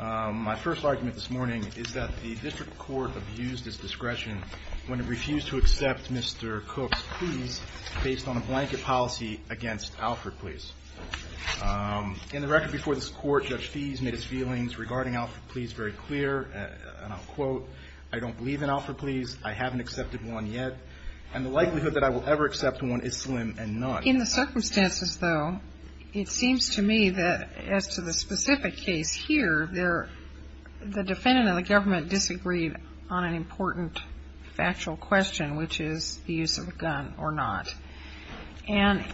My first argument this morning is that the district court abused its discretion when it refused to accept Mr. Cook's pleas based on a blanket policy against Alfred Pleas. In the record before this court, Judge Fees made his feelings regarding Alfred Pleas very In the circumstances, though, it seems to me that as to the specific case here, the defendant and the government disagreed on an important factual question, which is the use of a gun or not. And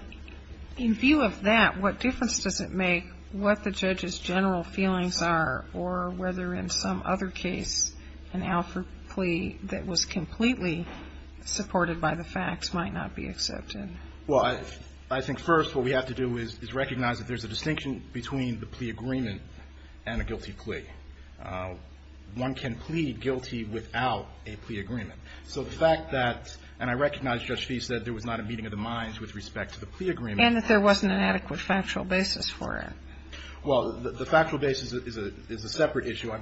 in view of that, what difference does it make what the judge's general feelings are or whether in some other case an Alfred Plea that was completely supported by the facts might not be accepted? Well, I think first what we have to do is recognize that there's a distinction between the plea agreement and a guilty plea. One can plead guilty without a plea agreement. So the fact that, and I recognize Judge Fees said there was not a meeting of the minds with respect to the plea agreement. And that there wasn't an adequate factual basis for it. Well, the factual basis is a separate issue.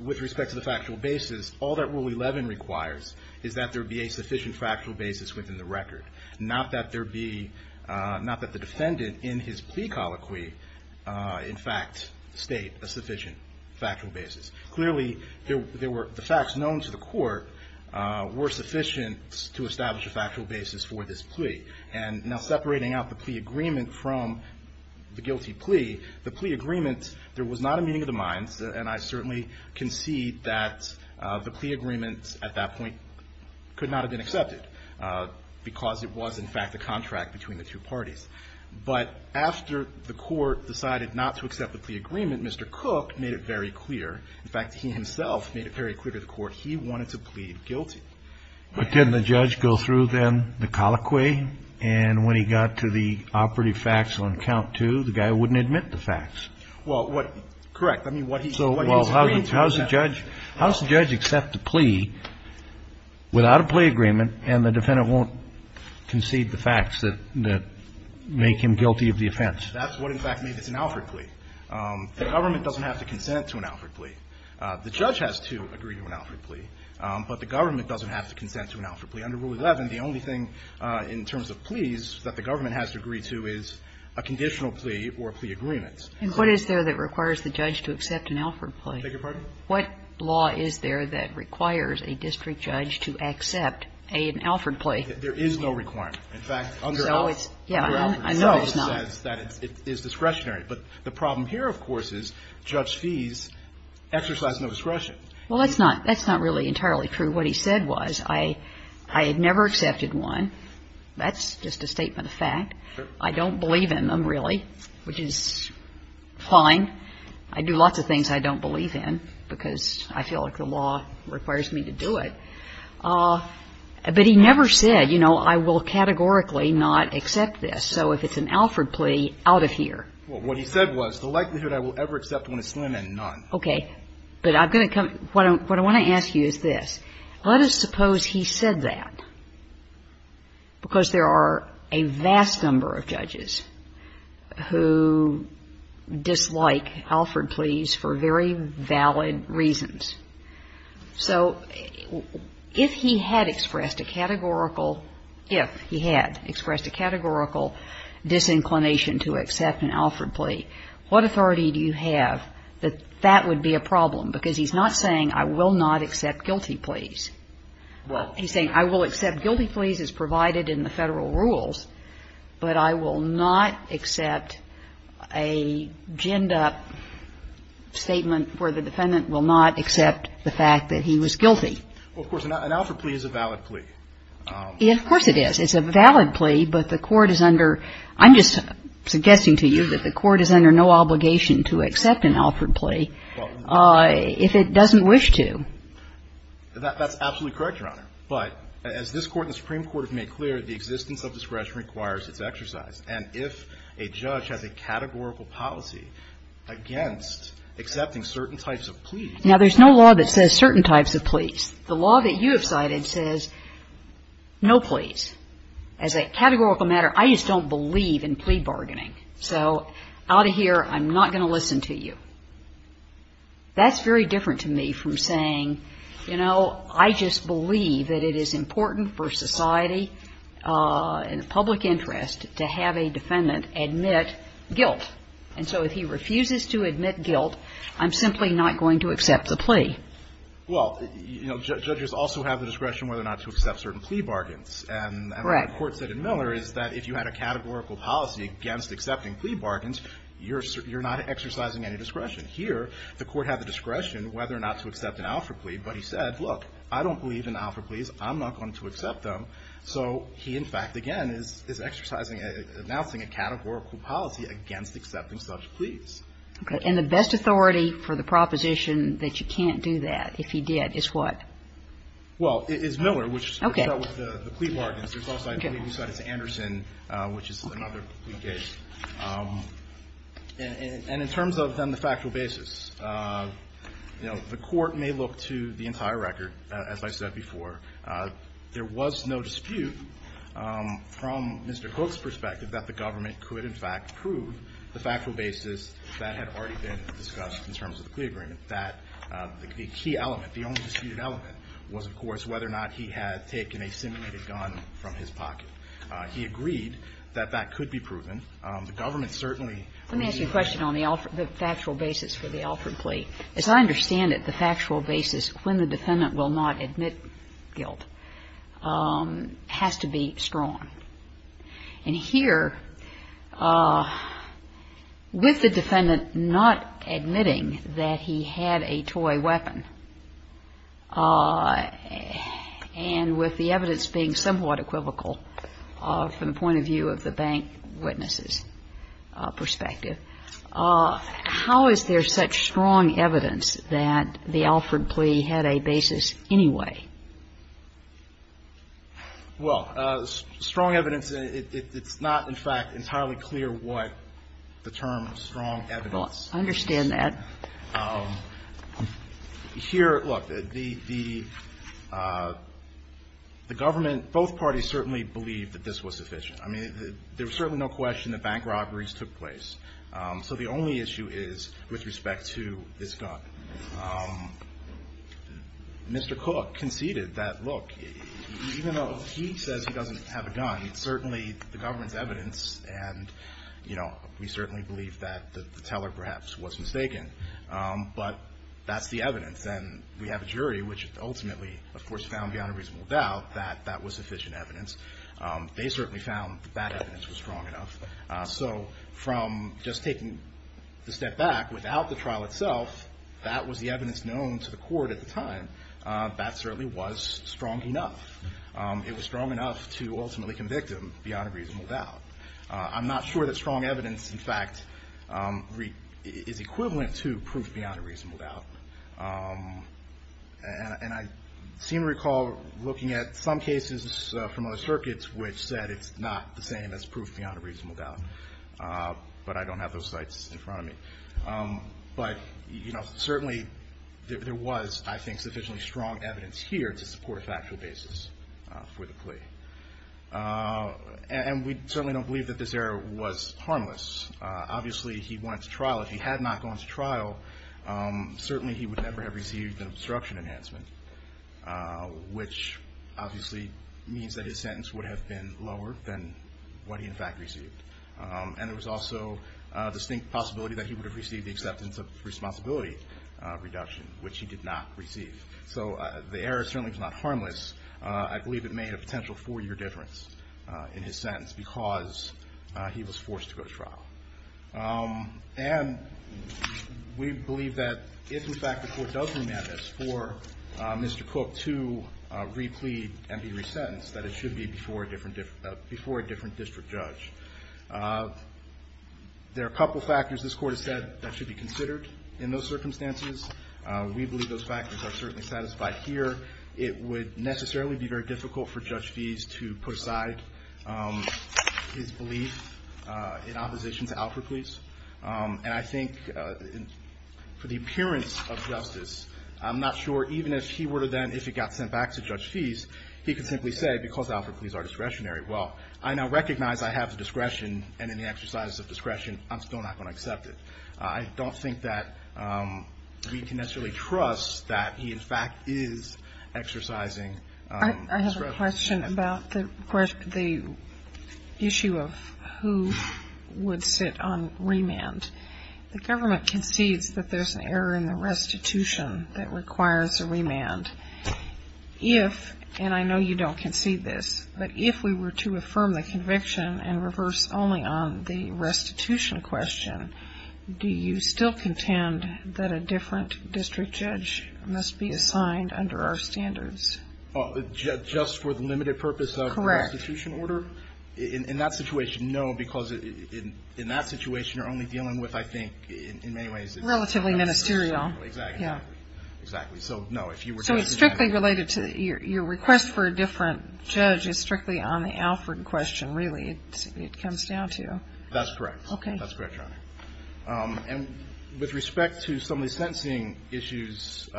With respect to the factual basis, all that Rule 11 requires is that there be a sufficient factual basis within the record. Not that there be, not that the defendant in his plea colloquy, in fact, state a sufficient factual basis. Clearly, there were, the facts known to the court were sufficient to establish a factual basis for this plea. And now separating out the plea agreement from the guilty plea, the plea agreement, there was not a meeting of the minds. And I certainly concede that the plea agreement at that point could not have been accepted because it was, in fact, a contract between the two parties. But after the court decided not to accept the plea agreement, Mr. Cook made it very clear. In fact, he himself made it very clear to the court he wanted to plead guilty. But didn't the judge go through, then, the colloquy? And when he got to the operative facts on count two, the guy wouldn't admit the facts. Well, what, correct. I mean, what he was agreeing to was that. And that's what made him guilty of the offense. That's what, in fact, made this an Alford plea. The government doesn't have to consent to an Alford plea. The judge has to agree to an Alford plea. But the government doesn't have to consent to an Alford plea. Under Rule 11, the only thing in terms of pleas that the government has to agree to is a conditional plea or plea agreement. And what is there that requires the judge to accept an Alford plea? I beg your pardon? What law is there that requires a district judge to accept an Alford plea? There is no requirement. In fact, under Alford itself, it says that it is discretionary. But the problem here, of course, is judge fees exercise no discretion. Well, that's not really entirely true. What he said was, I had never accepted one. That's just a statement of fact. Sure. I don't believe in them, really, which is fine. I do lots of things I don't believe in because I feel like the law requires me to do it. But he never said, you know, I will categorically not accept this. So if it's an Alford plea, out of here. Well, what he said was, the likelihood I will ever accept one is slim and none. Okay. But I'm going to come to you. What I want to ask you is this. Let us suppose he said that because there are a vast number of judges who dislike Alford pleas for very valid reasons. So if he had expressed a categorical, if he had expressed a categorical disinclination to accept an Alford plea, what authority do you have that that would be a problem? Because he's not saying, I will not accept guilty pleas. He's saying, I will accept guilty pleas as provided in the Federal rules, but I will not accept the fact that he was guilty. Well, of course, an Alford plea is a valid plea. Of course it is. It's a valid plea, but the Court is under, I'm just suggesting to you that the Court is under no obligation to accept an Alford plea if it doesn't wish to. That's absolutely correct, Your Honor. But as this Court and the Supreme Court have made clear, the existence of discretion requires its exercise. And if a judge has a categorical policy against accepting certain types of pleas. Now, there's no law that says certain types of pleas. The law that you have cited says no pleas. As a categorical matter, I just don't believe in plea bargaining. So out of here, I'm not going to listen to you. That's very different to me from saying, you know, I just believe that it is important for society and the public interest to have a defendant admit guilt. And so if he refuses to admit guilt, I'm simply not going to accept the plea. Well, you know, judges also have the discretion whether or not to accept certain plea bargains. And what the Court said in Miller is that if you had a categorical policy against accepting plea bargains, you're not exercising any discretion. Here, the Court had the discretion whether or not to accept an Alford plea, but he said, look, I don't believe in Alford pleas. I'm not going to accept them. So he, in fact, again, is exercising, announcing a categorical policy against accepting such pleas. Okay. And the best authority for the proposition that you can't do that, if he did, is what? Well, it's Miller, which dealt with the plea bargains. There's also, I believe you said it's Anderson, which is another plea case. And in terms of, then, the factual basis, you know, the Court may look to the entire record, as I said before. There was no dispute from Mr. Cook's perspective that the government could, in fact, prove the factual basis that had already been discussed in terms of the plea agreement, that the key element, the only disputed element, was, of course, whether or not he had taken a simulated gun from his pocket. He agreed that that could be proven. The government certainly agreed. Let me ask you a question on the factual basis for the Alford plea. As I understand it, the factual basis, when the defendant will not admit guilt, has to be strong. And here, with the defendant not admitting that he had a toy weapon, and with the evidence being somewhat equivocal from the point of view of the bank witness's perspective, how is there such strong evidence that the Alford plea had a basis anyway? Well, strong evidence, it's not, in fact, entirely clear what the term strong evidence is. Well, I understand that. Here, look, the government, both parties certainly believed that this was sufficient. I mean, there was certainly no question that bank robberies took place. So the only issue is with respect to this gun. Mr. Cook conceded that, look, even though he says he doesn't have a gun, certainly the government's evidence, and, you know, we certainly believe that the teller perhaps was mistaken, but that's the evidence. And we have a jury which ultimately, of course, found beyond a reasonable doubt that that was sufficient evidence. They certainly found that that evidence was strong enough. So from just taking the step back, without the trial itself, that was the evidence known to the court at the time. That certainly was strong enough. It was strong enough to ultimately convict him beyond a reasonable doubt. I'm not sure that strong evidence, in fact, is equivalent to proof beyond a reasonable doubt. And I seem to recall looking at some cases from other circuits which said it's not the same as proof beyond a reasonable doubt, but I don't have those sites in front of me. But, you know, certainly there was, I think, sufficiently strong evidence here to support a factual basis for the plea. And we certainly don't believe that this error was harmless. Obviously, he went to trial. If he had not gone to trial, certainly he would never have received an obstruction enhancement, which obviously means that his sentence would have been lower than what he, in fact, received. And there was also a distinct possibility that he would have received the acceptance of responsibility reduction, which he did not receive. So the error certainly was not harmless. I believe it made a potential four-year difference in his sentence because he was forced to go to trial. And we believe that if, in fact, the court does remand this for Mr. Cook to replead and be resentenced, that it should be before a different district judge. There are a couple of factors, this Court has said, that should be considered in those circumstances. We believe those factors are certainly satisfied here. It would necessarily be very difficult for Judge Feese to put aside his belief in opposition to Alford Pleas. And I think for the appearance of justice, I'm not sure even if he were to then, if he got sent back to Judge Feese, he could simply say, because Alford Pleas are discretionary. Well, I now recognize I have the discretion, and in the exercise of discretion, I'm still not going to accept it. I don't think that we can necessarily trust that he, in fact, is exercising discretion. I have a question about the issue of who would sit on remand. The government concedes that there's an error in the restitution that requires a remand. If, and I know you don't concede this, but if we were to affirm the conviction and reverse only on the restitution question, do you still contend that a different district judge must be assigned under our standards? Just for the limited purpose of the restitution order? Correct. In that situation, no, because in that situation, you're only dealing with, I think, in many ways. Relatively ministerial. Exactly. Exactly. So, no, if you were to ask exactly. So it's strictly related to, your request for a different judge is strictly on the Alford question, really, it comes down to. That's correct. Okay. That's correct, Your Honor. And with respect to some of the sentencing issues,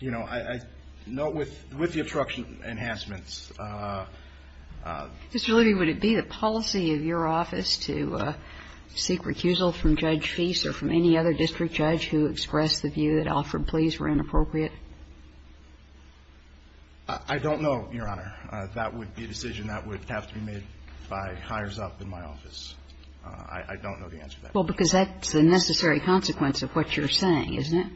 you know, I note with the obstruction enhancements. Mr. Levy, would it be the policy of your office to seek recusal from Judge Feese or from any other district judge who expressed the view that Alford pleas were inappropriate? I don't know, Your Honor. That would be a decision that would have to be made by hires up in my office. I don't know the answer to that. Well, because that's the necessary consequence of what you're saying, isn't it?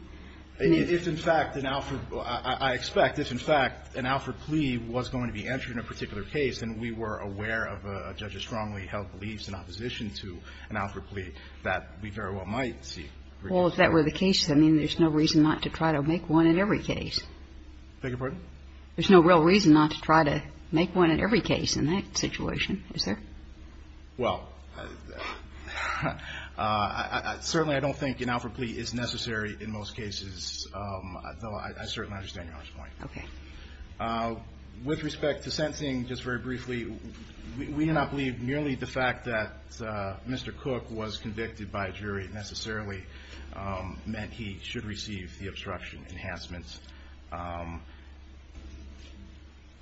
If, in fact, an Alford – I expect if, in fact, an Alford plea was going to be entered in a particular case and we were aware of a judge's strongly held beliefs in opposition to an Alford plea, that we very well might seek recusal. Well, if that were the case, I mean, there's no reason not to try to make one in every case. I beg your pardon? There's no real reason not to try to make one in every case in that situation, is there? Well, certainly I don't think an Alford plea is necessary in most cases, though I certainly understand Your Honor's point. Okay. With respect to sensing, just very briefly, we do not believe merely the fact that Mr. Cook was convicted by a jury necessarily meant he should receive the obstruction enhancements.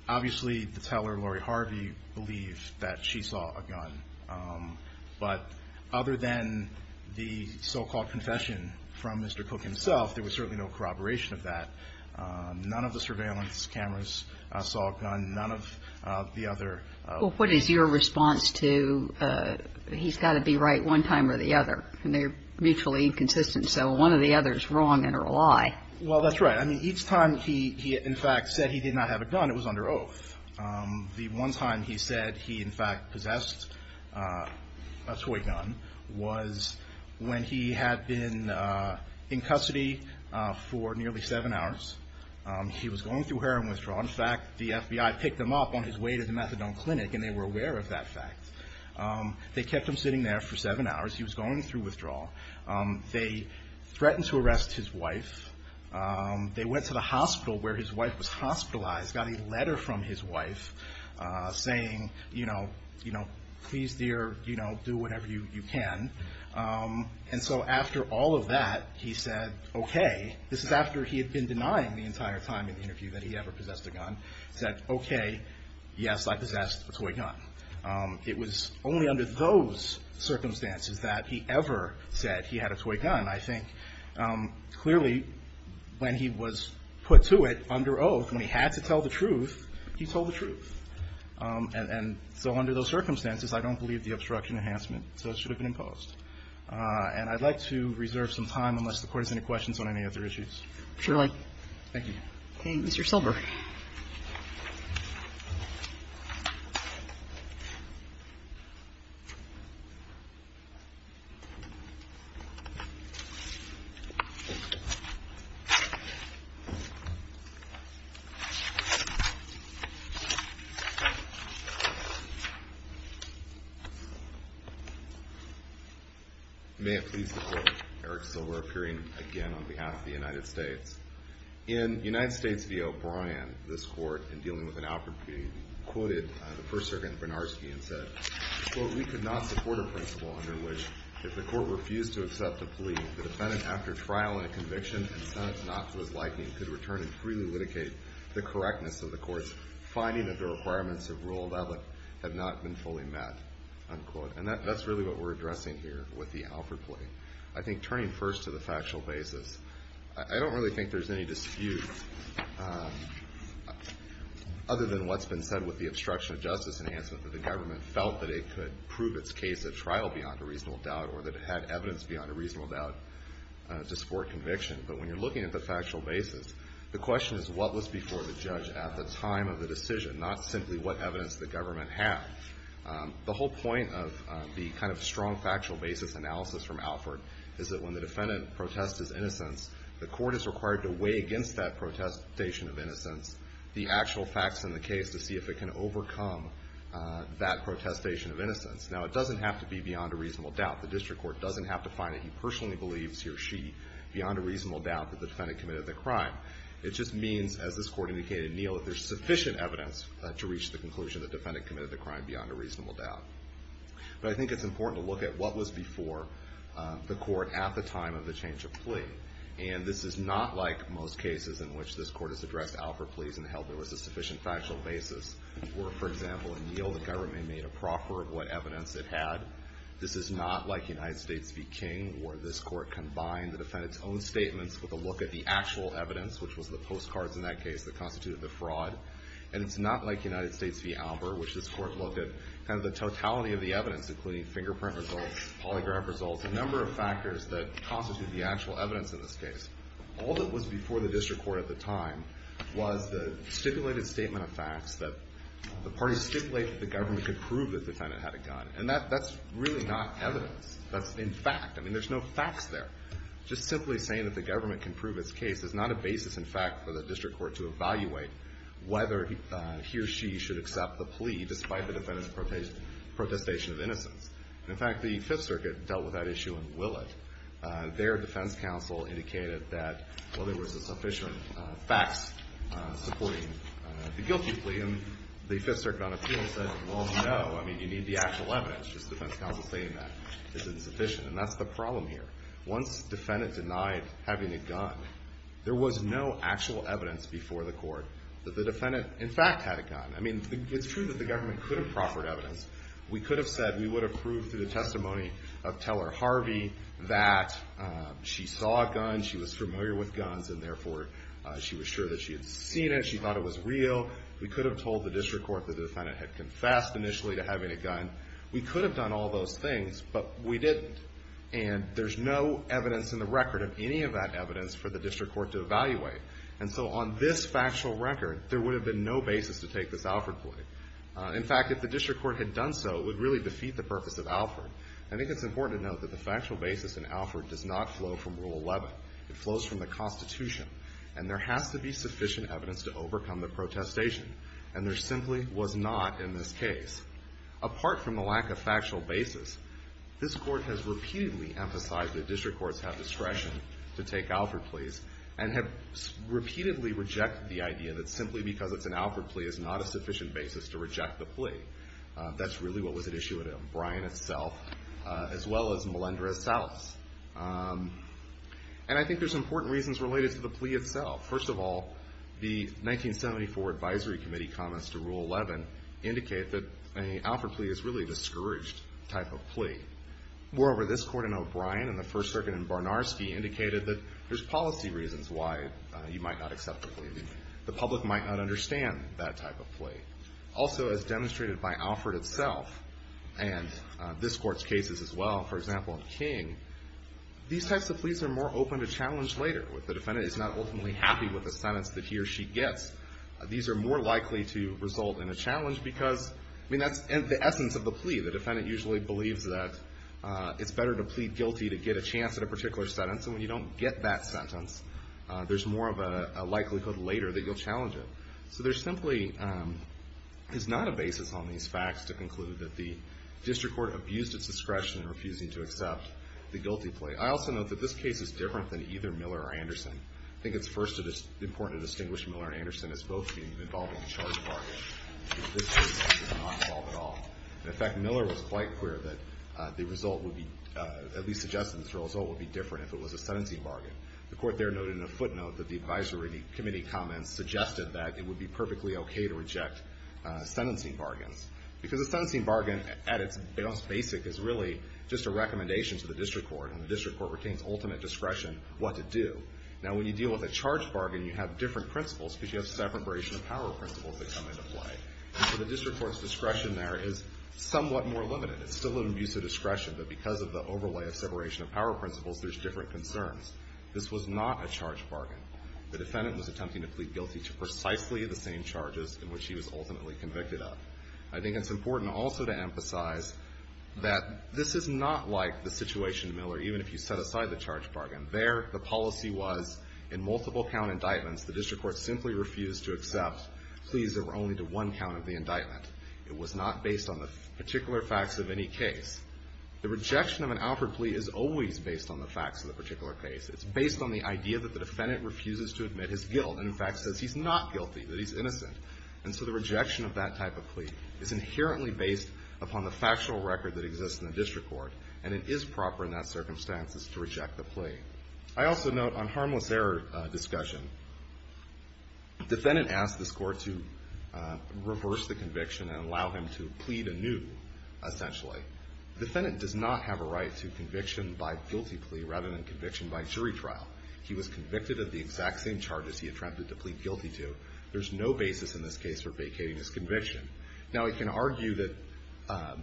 Obviously, the teller, Lori Harvey, believed that she saw a gun. But other than the so-called confession from Mr. Cook himself, there was certainly no corroboration of that. None of the surveillance cameras saw a gun. None of the other Well, what is your response to he's got to be right one time or the other? And they're mutually inconsistent, so one or the other is wrong and are a lie. Well, that's right. I mean, each time he in fact said he did not have a gun, it was under oath. The one time he said he in fact possessed a toy gun was when he had been in custody for nearly seven hours. He was going through heroin withdrawal. In fact, the FBI picked him up on his way to the methadone clinic and they were aware of that fact. They kept him sitting there for seven hours. He was going through withdrawal. They threatened to arrest his wife. They went to the hospital where his wife was hospitalized, got a letter from his wife saying, you know, please dear, do whatever you can. And so after all of that, he said, okay. This is after he had been denying the entire time in the interview that he ever possessed a gun. He said, okay, yes, I possessed a toy gun. It was only under those circumstances that he ever said he had a toy gun. I think clearly when he was put to it under oath, when he had to tell the truth, he told the truth. And so under those circumstances, I don't believe the obstruction enhancement should have been imposed. And I'd like to reserve some time unless the Court has any questions on any other issues. Thank you. Okay. Mr. Silver. May it please the Court. Eric Silver appearing again on behalf of the United States. In United States v. O'Brien, this Court, in dealing with an Alford plea, quoted the First Sergeant Bernarski and said, quote, we could not support a principle under which if the Court refused to accept a plea, the defendant, after trial and conviction and sentence not to his liking, could return and freely litigate the correctness of the Court's finding that the requirements of rule of law have not been fully met, unquote. And that's really what we're addressing here with the Alford plea. I think turning first to the factual basis. I don't really think there's any dispute other than what's been said with the obstruction of justice enhancement that the government felt that it could prove its case at trial beyond a reasonable doubt or that it had evidence beyond a reasonable doubt to support conviction. But when you're looking at the factual basis, the question is what was before the judge at the time of the decision, not simply what evidence the government had. The whole point of the kind of strong factual basis analysis from Alford is that when the defendant protests his innocence, the Court is required to weigh against that protestation of innocence the actual facts in the case to see if it can overcome that protestation of innocence. Now, it doesn't have to be beyond a reasonable doubt. The District Court doesn't have to find that he personally believes he or she beyond a reasonable doubt that the defendant committed the crime. It just means, as this Court indicated in Neal, that there's sufficient evidence to reach the conclusion that the defendant committed the crime beyond a reasonable doubt. But I think it's important to look at what was before the Court at the time of the change of plea. And this is not like most cases in which this Court has addressed Alford pleas and held there was a sufficient factual basis, where, for example, in Neal, the government made a proffer of what evidence it had. This is not like United States v. King, where this Court combined the defendant's own statements with a look at the actual evidence, which was the postcards in that case that constituted the fraud. And it's not like United States v. Albert, which this Court looked at kind of the totality of the evidence, including fingerprint results, polygraph results, a number of factors that constitute the actual evidence in this case. All that was before the District Court at the time was the stipulated statement of facts that the parties stipulated that the government could prove the defendant had a gun. And that's really not evidence. That's in fact. I mean, there's no facts there. Just simply saying that the government can prove its case is not a basis, in fact, for the District Court to evaluate whether he or she should accept the plea, despite the defendant's protestation of innocence. In fact, the Fifth Circuit dealt with that issue in Willett. Their defense counsel indicated that, well, there was sufficient facts supporting the guilty plea. And the Fifth Circuit on appeal said, well, no. I mean, you need the actual evidence. Just defense counsel saying that is insufficient. And that's the problem here. Once the defendant denied having a gun, there was no actual evidence before the court that the defendant, in fact, had a gun. I mean, it's true that the government could have proffered evidence. We could have said we would have proved through the testimony of Teller Harvey that she saw a gun, she was familiar with guns, and therefore she was sure that she had seen it, she thought it was real. We could have told the District Court that the defendant had confessed initially to having a gun. We could have done all those things, but we didn't. And there's no evidence in the record of any of that evidence for the District Court to evaluate. And so on this factual record, there would have been no basis to take this Alford plea. In fact, if the District Court had done so, it would really defeat the purpose of Alford. I think it's important to note that the factual basis in Alford does not flow from Rule 11. It flows from the Constitution. And there has to be sufficient evidence to overcome the protestation. And there simply was not in this case. Apart from the lack of factual basis, this Court has repeatedly emphasized that District Courts have discretion to take Alford pleas and have repeatedly rejected the idea that simply because it's an Alford plea is not a sufficient basis to reject the plea. That's really what was at issue with him, Bryan itself, as well as Melendrez-Salas. And I think there's important reasons related to the plea itself. First of all, the 1974 Advisory Committee comments to Rule 11 indicate that an Alford plea is really a discouraged type of plea. Moreover, this Court in O'Brien and the First Circuit in Barnarski indicated that there's policy reasons why you might not accept the plea. The public might not understand that type of plea. Also, as demonstrated by Alford itself and this Court's cases as well, for example in King, these types of pleas are more open to challenge later. If the defendant is not ultimately happy with the sentence that he or she gets, these are more likely to result in a challenge because that's the essence of the plea. The defendant usually believes that it's better to plead guilty to get a chance at a particular sentence, and when you don't get that sentence, there's more of a likelihood later that you'll challenge it. So there simply is not a basis on these facts to conclude that the District Court abused its discretion in refusing to accept the guilty plea. I also note that this case is different than either Miller or Anderson. I think it's first important to distinguish Miller and Anderson as both being involved in a charge bargain. This case is not involved at all. In fact, Miller was quite clear that the result would be, at least suggested that the result would be different if it was a sentencing bargain. The Court there noted in a footnote that the Advisory Committee comments suggested that it would be perfectly okay to reject sentencing bargains because a sentencing bargain at its most basic is really just a recommendation to the District Court, and the District Court retains ultimate discretion what to do. Now, when you deal with a charge bargain, you have different principles because you have separation of power principles that come into play, and so the District Court's discretion there is somewhat more limited. It's still an abuse of discretion, but because of the overlay of separation of power principles, there's different concerns. This was not a charge bargain. The defendant was attempting to plead guilty to precisely the same charges in which he was ultimately convicted of. I think it's important also to emphasize that this is not like the situation in Miller, even if you set aside the charge bargain. There, the policy was in multiple count indictments, the District Court simply refused to accept pleas that were only to one count of the indictment. It was not based on the particular facts of any case. The rejection of an Alfred plea is always based on the facts of the particular case. It's based on the idea that the defendant refuses to admit his guilt and, in fact, says he's not guilty, that he's innocent. And so the rejection of that type of plea is inherently based upon the factual record that exists in the District Court, and it is proper in that circumstance to reject the plea. I also note on harmless error discussion, the defendant asked the court to reverse the conviction and allow him to plead anew, essentially. The defendant does not have a right to conviction by guilty plea rather than conviction by jury trial. He was convicted of the exact same charges he attempted to plead guilty to. There's no basis in this case for vacating his conviction. Now, he can argue that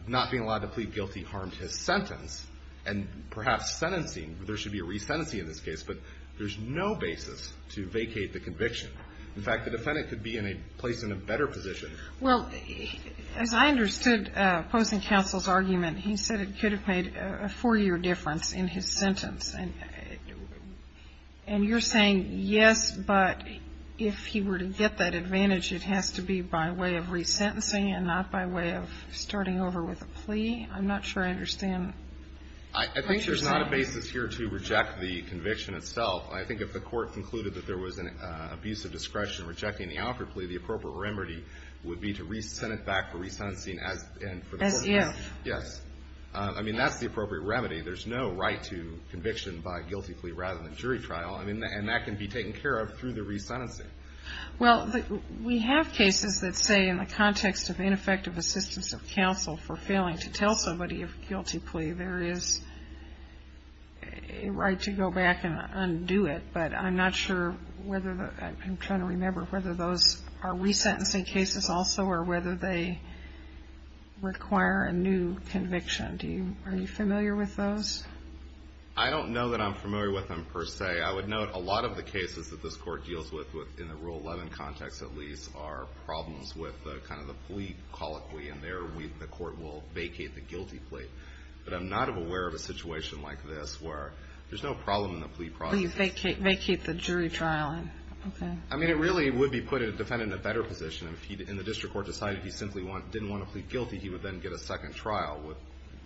not being allowed to plead guilty harmed his sentence and perhaps sentencing, there should be a resentencing in this case, but there's no basis to vacate the conviction. In fact, the defendant could be in a place in a better position. Well, as I understood opposing counsel's argument, he said it could have made a four-year difference in his sentence. And you're saying, yes, but if he were to get that advantage, it has to be by way of resentencing and not by way of starting over with a plea? I'm not sure I understand. I think there's not a basis here to reject the conviction itself. I think if the court concluded that there was an abuse of discretion rejecting the offered plea, the appropriate remedy would be to re-sent it back for resentencing. As if. Yes. I mean, that's the appropriate remedy. There's no right to conviction by guilty plea rather than jury trial, and that can be taken care of through the resentencing. Well, we have cases that say in the context of ineffective assistance of counsel for failing to tell somebody of a guilty plea, there is a right to go back and undo it. But I'm not sure whether the – I'm trying to remember whether those are resentencing cases also or whether they require a new conviction. Are you familiar with those? I don't know that I'm familiar with them per se. Okay. I would note a lot of the cases that this court deals with in the Rule 11 context, at least, are problems with kind of the plea colloquy, and there the court will vacate the guilty plea. But I'm not aware of a situation like this where there's no problem in the plea process. Vacate the jury trial. Okay. I mean, it really would be put a defendant in a better position if he, in the district court, decided he simply didn't want to plead guilty. He would then get a second trial with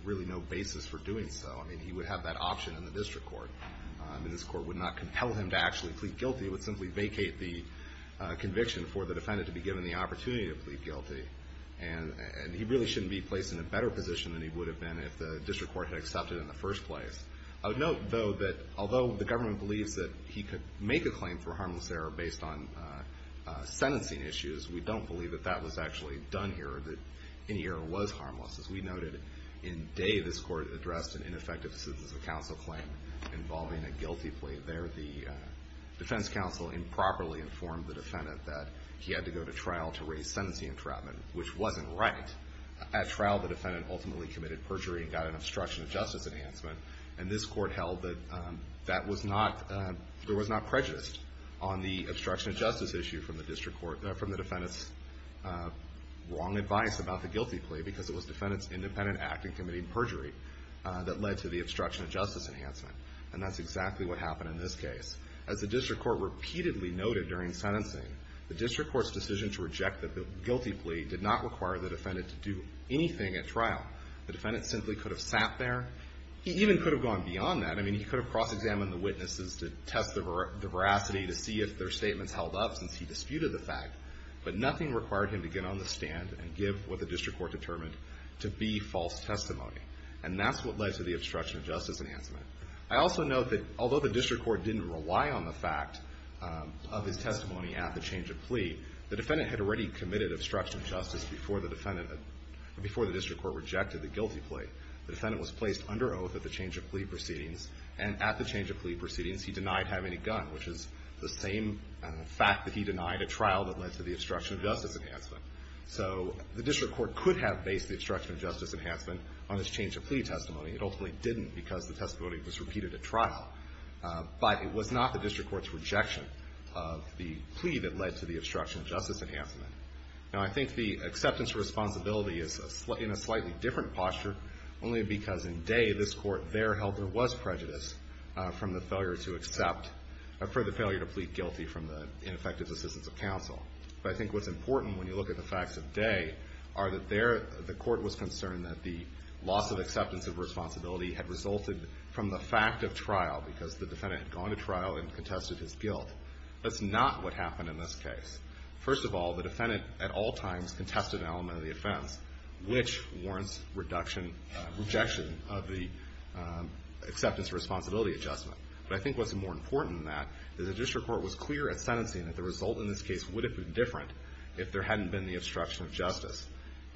really no basis for doing so. I mean, he would have that option in the district court. I mean, this court would not compel him to actually plead guilty. It would simply vacate the conviction for the defendant to be given the opportunity to plead guilty. And he really shouldn't be placed in a better position than he would have been if the district court had accepted in the first place. I would note, though, that although the government believes that he could make a claim for harmless error based on sentencing issues, we don't believe that that was actually done here, that any error was harmless. As we noted, in Day, this court addressed an ineffective decision as a counsel claim involving a guilty plea. There, the defense counsel improperly informed the defendant that he had to go to trial to raise sentencing entrapment, which wasn't right. At trial, the defendant ultimately committed perjury and got an obstruction of justice enhancement. And this court held that there was not prejudice on the obstruction of justice issue from the defendant's wrong advice about the guilty plea because it was the defendant's independent act in committing perjury that led to the obstruction of justice enhancement. And that's exactly what happened in this case. As the district court repeatedly noted during sentencing, the district court's decision to reject the guilty plea did not require the defendant to do anything at trial. The defendant simply could have sat there. He even could have gone beyond that. I mean, he could have cross-examined the witnesses to test the veracity to see if their statements held up since he disputed the fact. But nothing required him to get on the stand and give what the district court determined to be false testimony. And that's what led to the obstruction of justice enhancement. I also note that although the district court didn't rely on the fact of his testimony at the change of plea, the defendant had already committed obstruction of justice before the district court rejected the guilty plea. The defendant was placed under oath at the change of plea proceedings. And at the change of plea proceedings, he denied having a gun, which is the same fact that he denied at trial that led to the obstruction of justice enhancement. So the district court could have based the obstruction of justice enhancement on his change of plea testimony. It ultimately didn't because the testimony was repeated at trial. But it was not the district court's rejection of the plea that led to the obstruction of justice enhancement. Now, I think the acceptance of responsibility is in a slightly different posture, only because in Day, this court there held there was prejudice from the failure to accept or for the failure to plead guilty from the ineffective assistance of counsel. But I think what's important when you look at the facts of Day are that the court was concerned that the loss of acceptance of responsibility had resulted from the fact of trial because the defendant had gone to trial and contested his guilt. That's not what happened in this case. First of all, the defendant at all times contested an element of the offense, which warrants rejection of the acceptance of responsibility adjustment. But I think what's more important than that is the district court was clear at sentencing that the result in this case would have been different if there hadn't been the obstruction of justice.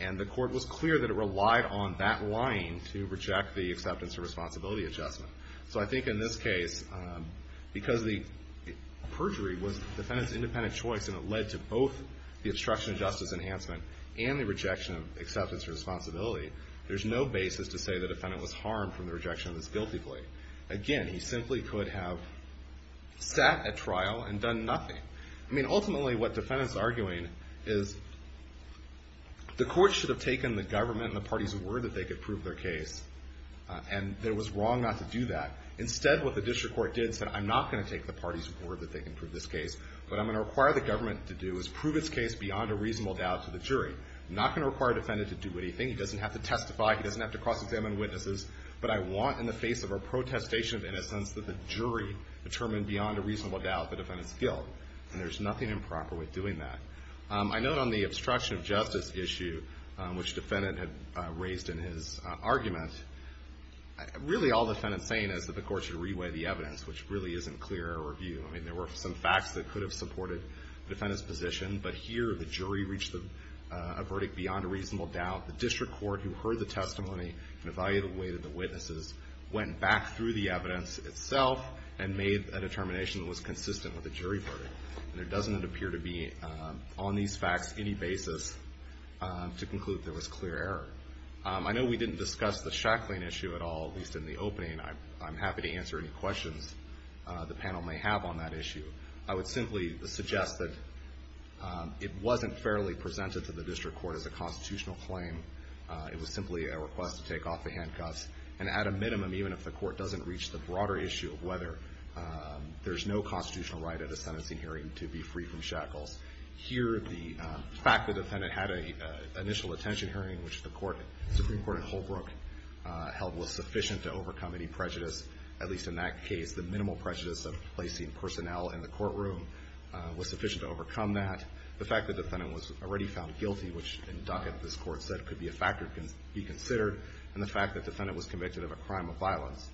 And the court was clear that it relied on that lying to reject the acceptance of responsibility adjustment. So I think in this case, because the perjury was the defendant's independent choice and it led to both the obstruction of justice enhancement and the rejection of acceptance of responsibility, there's no basis to say the defendant was harmed from the rejection of his guilty plea. Again, he simply could have sat at trial and done nothing. I mean, ultimately what the defendant's arguing is the court should have taken the government and the parties' word that they could prove their case, and it was wrong not to do that. Instead, what the district court did is say, I'm not going to take the parties' word that they can prove this case, but what I'm going to require the government to do is prove its case beyond a reasonable doubt to the jury. I'm not going to require the defendant to do anything. He doesn't have to testify. He doesn't have to cross-examine witnesses. But I want, in the face of a protestation of innocence, that the jury determine beyond a reasonable doubt the defendant's guilt. And there's nothing improper with doing that. I note on the obstruction of justice issue, which the defendant had raised in his argument, really all the defendant's saying is that the court should reweigh the evidence, which really isn't clear review. I mean, there were some facts that could have supported the defendant's position, but here the jury reached a verdict beyond a reasonable doubt. The district court, who heard the testimony and evaluated the witnesses, went back through the evidence itself and made a determination that was consistent with the jury verdict. And there doesn't appear to be, on these facts, any basis to conclude there was clear error. I know we didn't discuss the Shackling issue at all, at least in the opening. I'm happy to answer any questions the panel may have on that issue. I would simply suggest that it wasn't fairly presented to the district court as a constitutional claim. It was simply a request to take off the handcuffs. And at a minimum, even if the court doesn't reach the broader issue of whether there's no constitutional right at a sentencing hearing to be free from shackles, here the fact the defendant had an initial attention hearing, which the Supreme Court in Holbrook held was sufficient to overcome any prejudice, at least in that case, the minimal prejudice of placing personnel in the courtroom was sufficient to overcome that. The fact the defendant was already found guilty, which in Ducat this Court said could be a factor to be considered, and the fact the defendant was convicted of a crime of violence,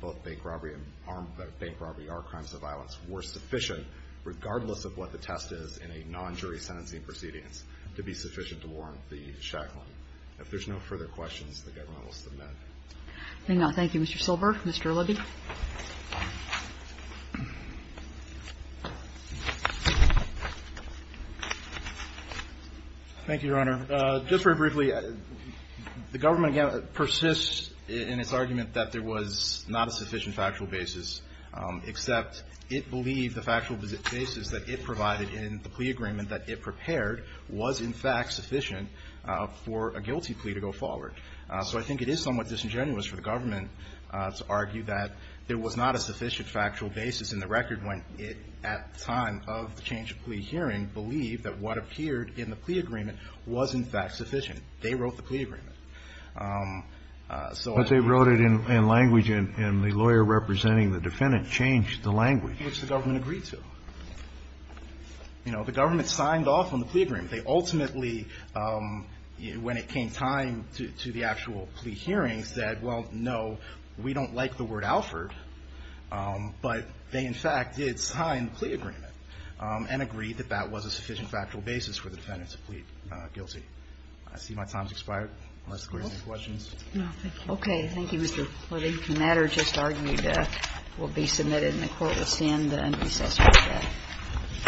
both bank robbery and armed bank robbery are crimes of violence, were sufficient, regardless of what the test is in a non-jury sentencing proceedings, to be sufficient to warrant the shackling. If there's no further questions, the Government will submit. Kagan. Thank you, Mr. Silber. Mr. Libby. Libby. Thank you, Your Honor. Just very briefly, the Government persists in its argument that there was not a sufficient factual basis, except it believed the factual basis that it provided in the plea agreement that it prepared was, in fact, sufficient for a guilty plea to go forward. So I think it is somewhat disingenuous for the Government to argue that there was not a sufficient factual basis in the record when it, at the time of the change of plea hearing, believed that what appeared in the plea agreement was, in fact, sufficient. They wrote the plea agreement. So I think they did. But they wrote it in language and the lawyer representing the defendant changed the language. Which the Government agreed to. You know, the Government signed off on the plea agreement. They ultimately, when it came time to the actual plea hearing, said, well, no, we don't like the word Alford. But they, in fact, did sign the plea agreement and agreed that that was a sufficient factual basis for the defendant to plead guilty. I see my time has expired. Unless the Court has any questions. No, thank you. Okay. Thank you, Mr. Libby. And that is just argued that will be submitted in the Court of Appeals and an assessment of that. All right.